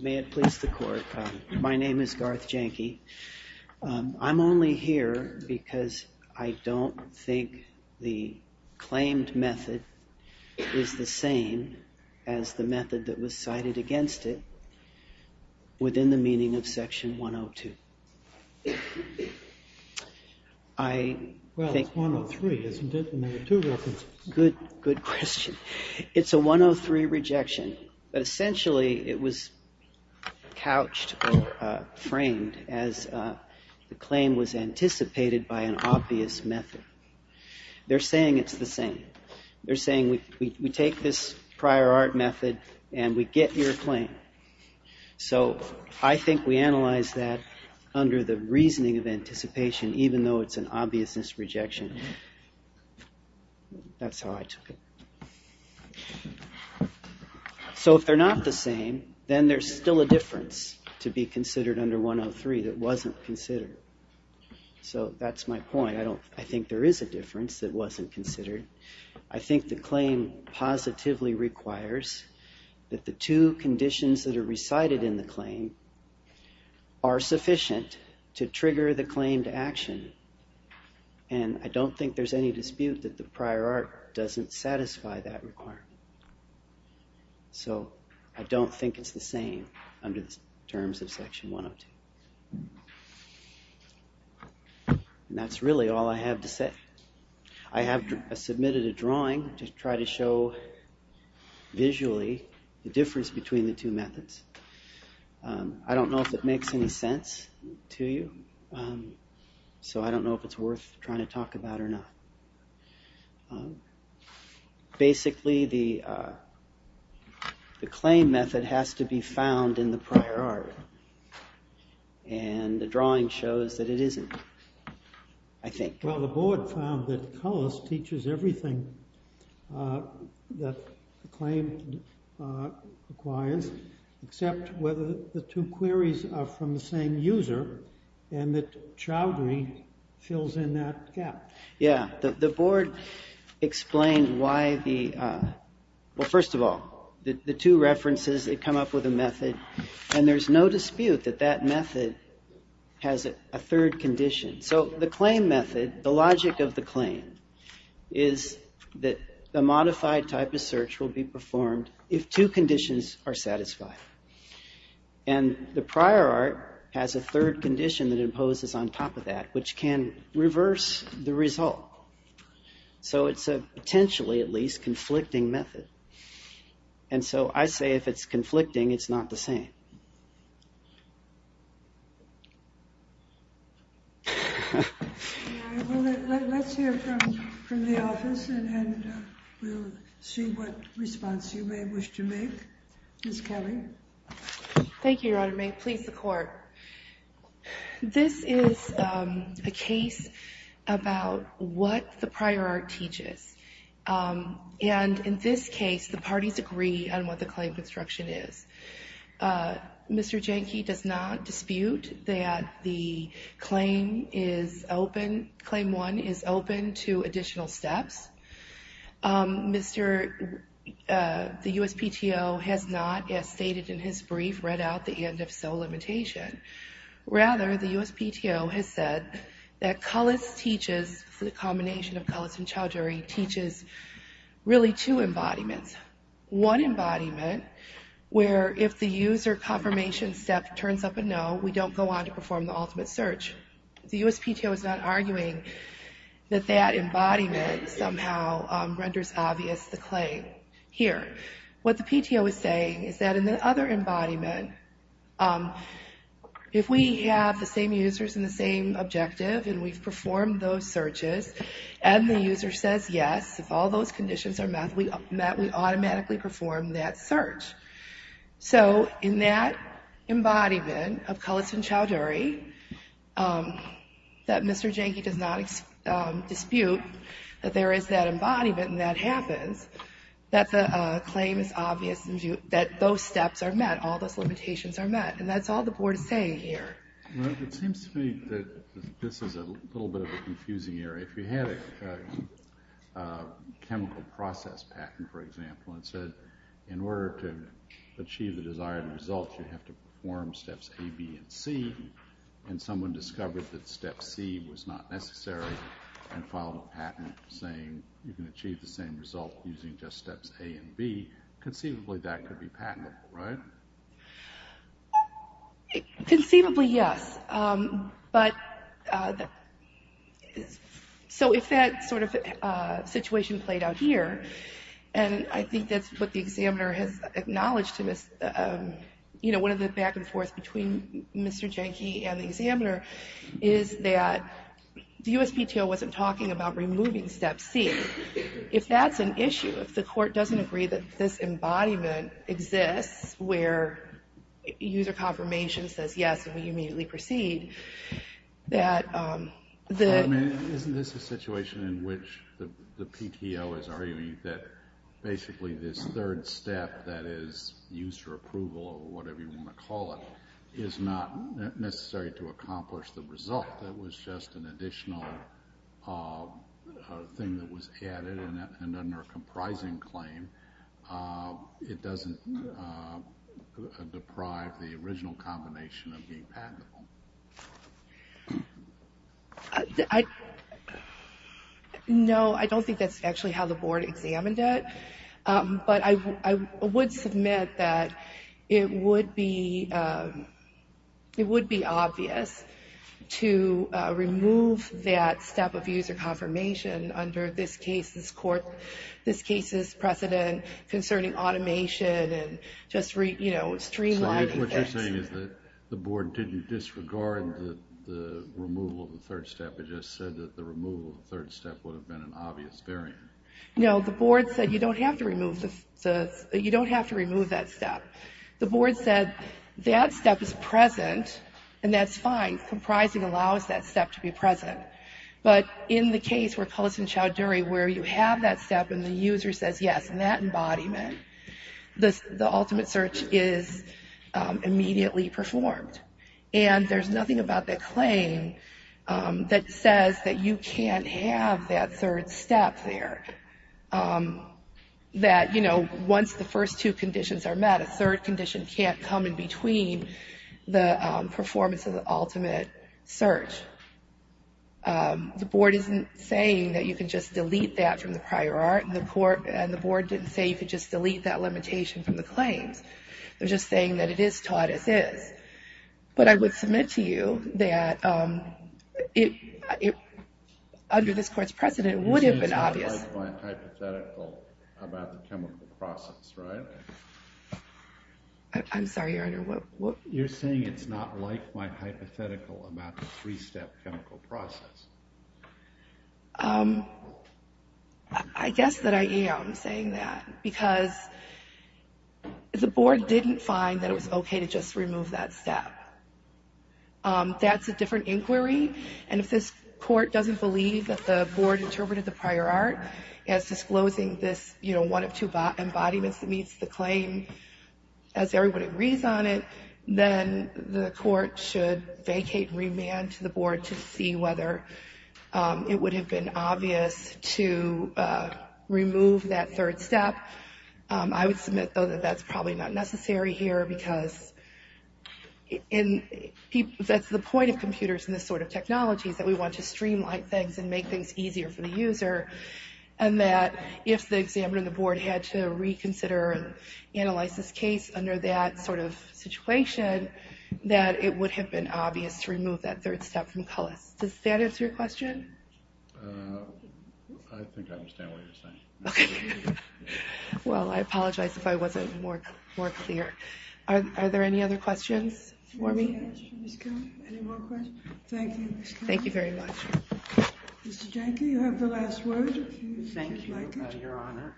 May it please the court, my name is Garth Janke. I'm only here because I don't think the claimed method is the same as the method that was cited against it within the meaning of section 102. It's a 103 rejection, but essentially it was couched or framed as the claim was anticipated by an obvious method. They're saying it's the same. They're saying we take this prior art method and we get your claim. So I think we analyze that under the reasoning of anticipation, even though it's an obviousness rejection. That's how I took it. So if they're not the same, then there's still a difference to be considered under 103 that wasn't considered. So that's my point. I think there is a difference that wasn't considered. I think the claim positively requires that the two conditions that are recited in the claim are sufficient to trigger the claimed action. And I don't think there's any dispute that the prior art doesn't satisfy that requirement. So I don't think it's the same under the terms of section 102. And that's really all I have to say. I have submitted a drawing to try to show visually the difference between the two methods. I don't know if it makes any sense to you, so I don't know if it's worth trying to talk about or not. Basically, the claim method has to be found in the prior art. And the drawing shows that it isn't, I think. Well, the board found that Cullis teaches everything that the claim requires, except whether the two queries are from the same user and that Chowdhury fills in that gap. Yeah, the board explained why the, well, first of all, the two references, they come up with a method, and there's no dispute that that method has a third condition. So the claim method, the logic of the claim is that the modified type of search will be performed if two conditions are satisfied. And the prior art has a third condition that imposes on top of that, which can reverse the result. So it's a potentially, at least, conflicting method. And so I say if it's conflicting, it's not the same. Well, let's hear from the office, and we'll see what response you may wish to make. Ms. Kelly. Thank you, Your Honor. May it please the Court. This is a case about what the prior art teaches. And in this case, the parties agree on what the claim construction is. Mr. Jenke does not dispute that the claim is open, Claim 1 is open to additional steps. Mr., the USPTO has not, as stated in his brief, read out the end-if-so limitation. Rather, the USPTO has said that Cullis teaches, the combination of Cullis and Chowdhury, teaches really two embodiments. One embodiment, where if the user confirmation step turns up a no, we don't go on to perform the ultimate search. The USPTO is not arguing that that embodiment somehow renders obvious the claim here. What the PTO is saying is that in the other embodiment, if we have the same users and the same objective, and we've performed those searches, and the user says yes, if all those conditions are met, we automatically perform that search. So, in that embodiment of Cullis and Chowdhury, that Mr. Jenke does not dispute that there is that embodiment and that happens, that the claim is obvious and that those steps are met, all those limitations are met. And that's all the Board is saying here. Well, it seems to me that this is a little bit of a confusing area. If you had a chemical process patent, for example, and said in order to achieve the desired results, you have to perform steps A, B, and C, and someone discovered that step C was not necessary, and filed a patent saying you can achieve the same result using just steps A and B, conceivably that could be patentable, right? Conceivably, yes. So, if that sort of situation played out here, and I think that's what the examiner has acknowledged, one of the back and forth between Mr. Jenke and the examiner is that the USPTO wasn't talking about removing step C. If that's an issue, if the court doesn't agree that this embodiment exists where user confirmation says yes, and we immediately proceed, that the... I mean, isn't this a situation in which the PTO is arguing that basically this third step that is user approval, or whatever you want to call it, is not necessary to accomplish the result. If that was just an additional thing that was added and under a comprising claim, it doesn't deprive the original combination of being patentable. No, I don't think that's actually how the board examined it, but I would submit that it would be obvious to remove that step of user confirmation under this case's precedent concerning automation and just streamlining things. So, what you're saying is that the board didn't disregard the removal of the third step, it just said that the removal of the third step would have been an obvious barrier. No, the board said you don't have to remove that step. The board said that step is present, and that's fine. Comprising allows that step to be present. But in the case where Cullis and Chowdhury, where you have that step and the user says yes, and that embodiment, the ultimate search is immediately performed. And there's nothing about that claim that says that you can't have that third step there. That, you know, once the first two conditions are met, a third condition can't come in between the performance of the ultimate search. The board isn't saying that you can just delete that from the prior art, and the board didn't say you could just delete that limitation from the claims. They're just saying that it is taught as is. But I would submit to you that under this court's precedent, it would have been obvious. You're saying it's not like-mind hypothetical about the chemical process, right? I'm sorry, Your Honor, what? You're saying it's not like-mind hypothetical about the three-step chemical process. I guess that I am saying that. Because the board didn't find that it was okay to just remove that step. That's a different inquiry. And if this court doesn't believe that the board interpreted the prior art as disclosing this, you know, one of two embodiments that meets the claim as everybody agrees on it, then the court should vacate and remand to the board to see whether it would have been obvious to remove that third step. I would submit, though, that that's probably not necessary here because that's the point of computers and this sort of technology is that we want to streamline things and make things easier for the user, and that if the examiner and the board had to reconsider and analyze this case under that sort of situation, that it would have been obvious to remove that third step from Cullis. Does that answer your question? I think I understand what you're saying. Okay. Well, I apologize if I wasn't more clear. Are there any other questions for me? Any more questions? Thank you. Thank you very much. Mr. Jenker, you have the last word. Thank you, Your Honor. Thank you, Your Honor.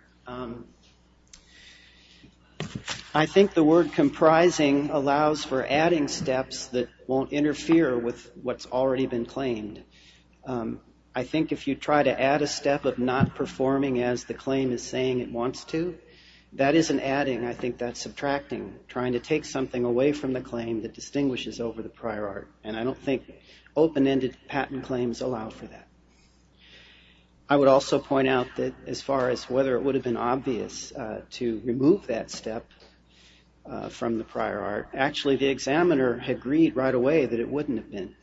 I think the word comprising allows for adding steps that won't interfere with what's already been claimed. I think if you try to add a step of not performing as the claim is saying it wants to, that isn't adding. I think that's subtracting, trying to take something away from the claim that distinguishes over the prior art, and I don't think open-ended patent claims allow for that. I would also point out that as far as whether it would have been obvious to remove that step from the prior art, actually the examiner agreed right away that it wouldn't have been.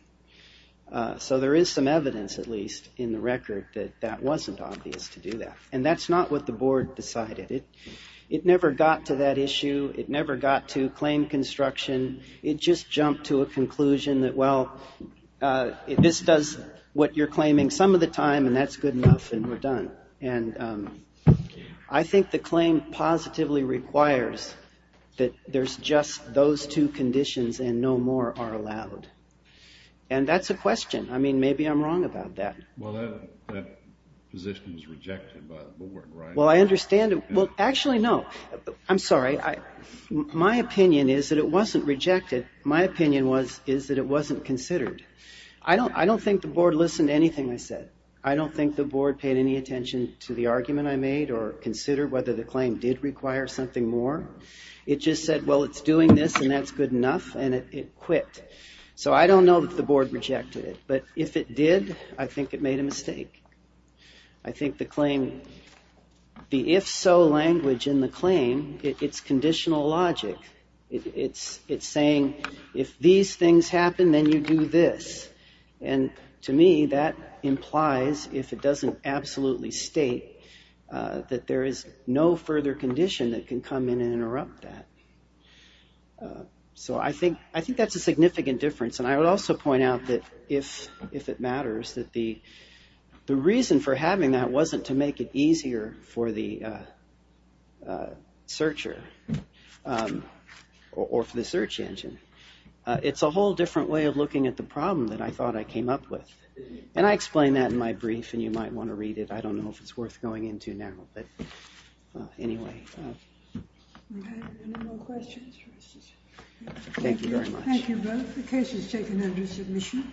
So there is some evidence, at least, in the record that that wasn't obvious to do that, and that's not what the board decided. It never got to that issue. It never got to claim construction. It just jumped to a conclusion that, well, this does what you're claiming some of the time, and that's good enough, and we're done. And I think the claim positively requires that there's just those two conditions and no more are allowed. And that's a question. I mean, maybe I'm wrong about that. Well, that position was rejected by the board, right? Well, I understand it. Well, actually, no. I'm sorry. My opinion is that it wasn't rejected. My opinion is that it wasn't considered. I don't think the board listened to anything I said. I don't think the board paid any attention to the argument I made or considered whether the claim did require something more. It just said, well, it's doing this, and that's good enough, and it quit. So I don't know that the board rejected it, but if it did, I think it made a mistake. I think the claim, the if-so language in the claim, it's conditional logic. It's saying if these things happen, then you do this. And to me, that implies, if it doesn't absolutely state, that there is no further condition that can come in and interrupt that. So I think that's a significant difference. And I would also point out that if it matters, that the reason for having that wasn't to make it easier for the searcher or for the search engine. It's a whole different way of looking at the problem that I thought I came up with. And I explain that in my brief, and you might want to read it. I don't know if it's worth going into now, but anyway. Okay, any more questions? Thank you very much. Thank you both. The case is taken under submission.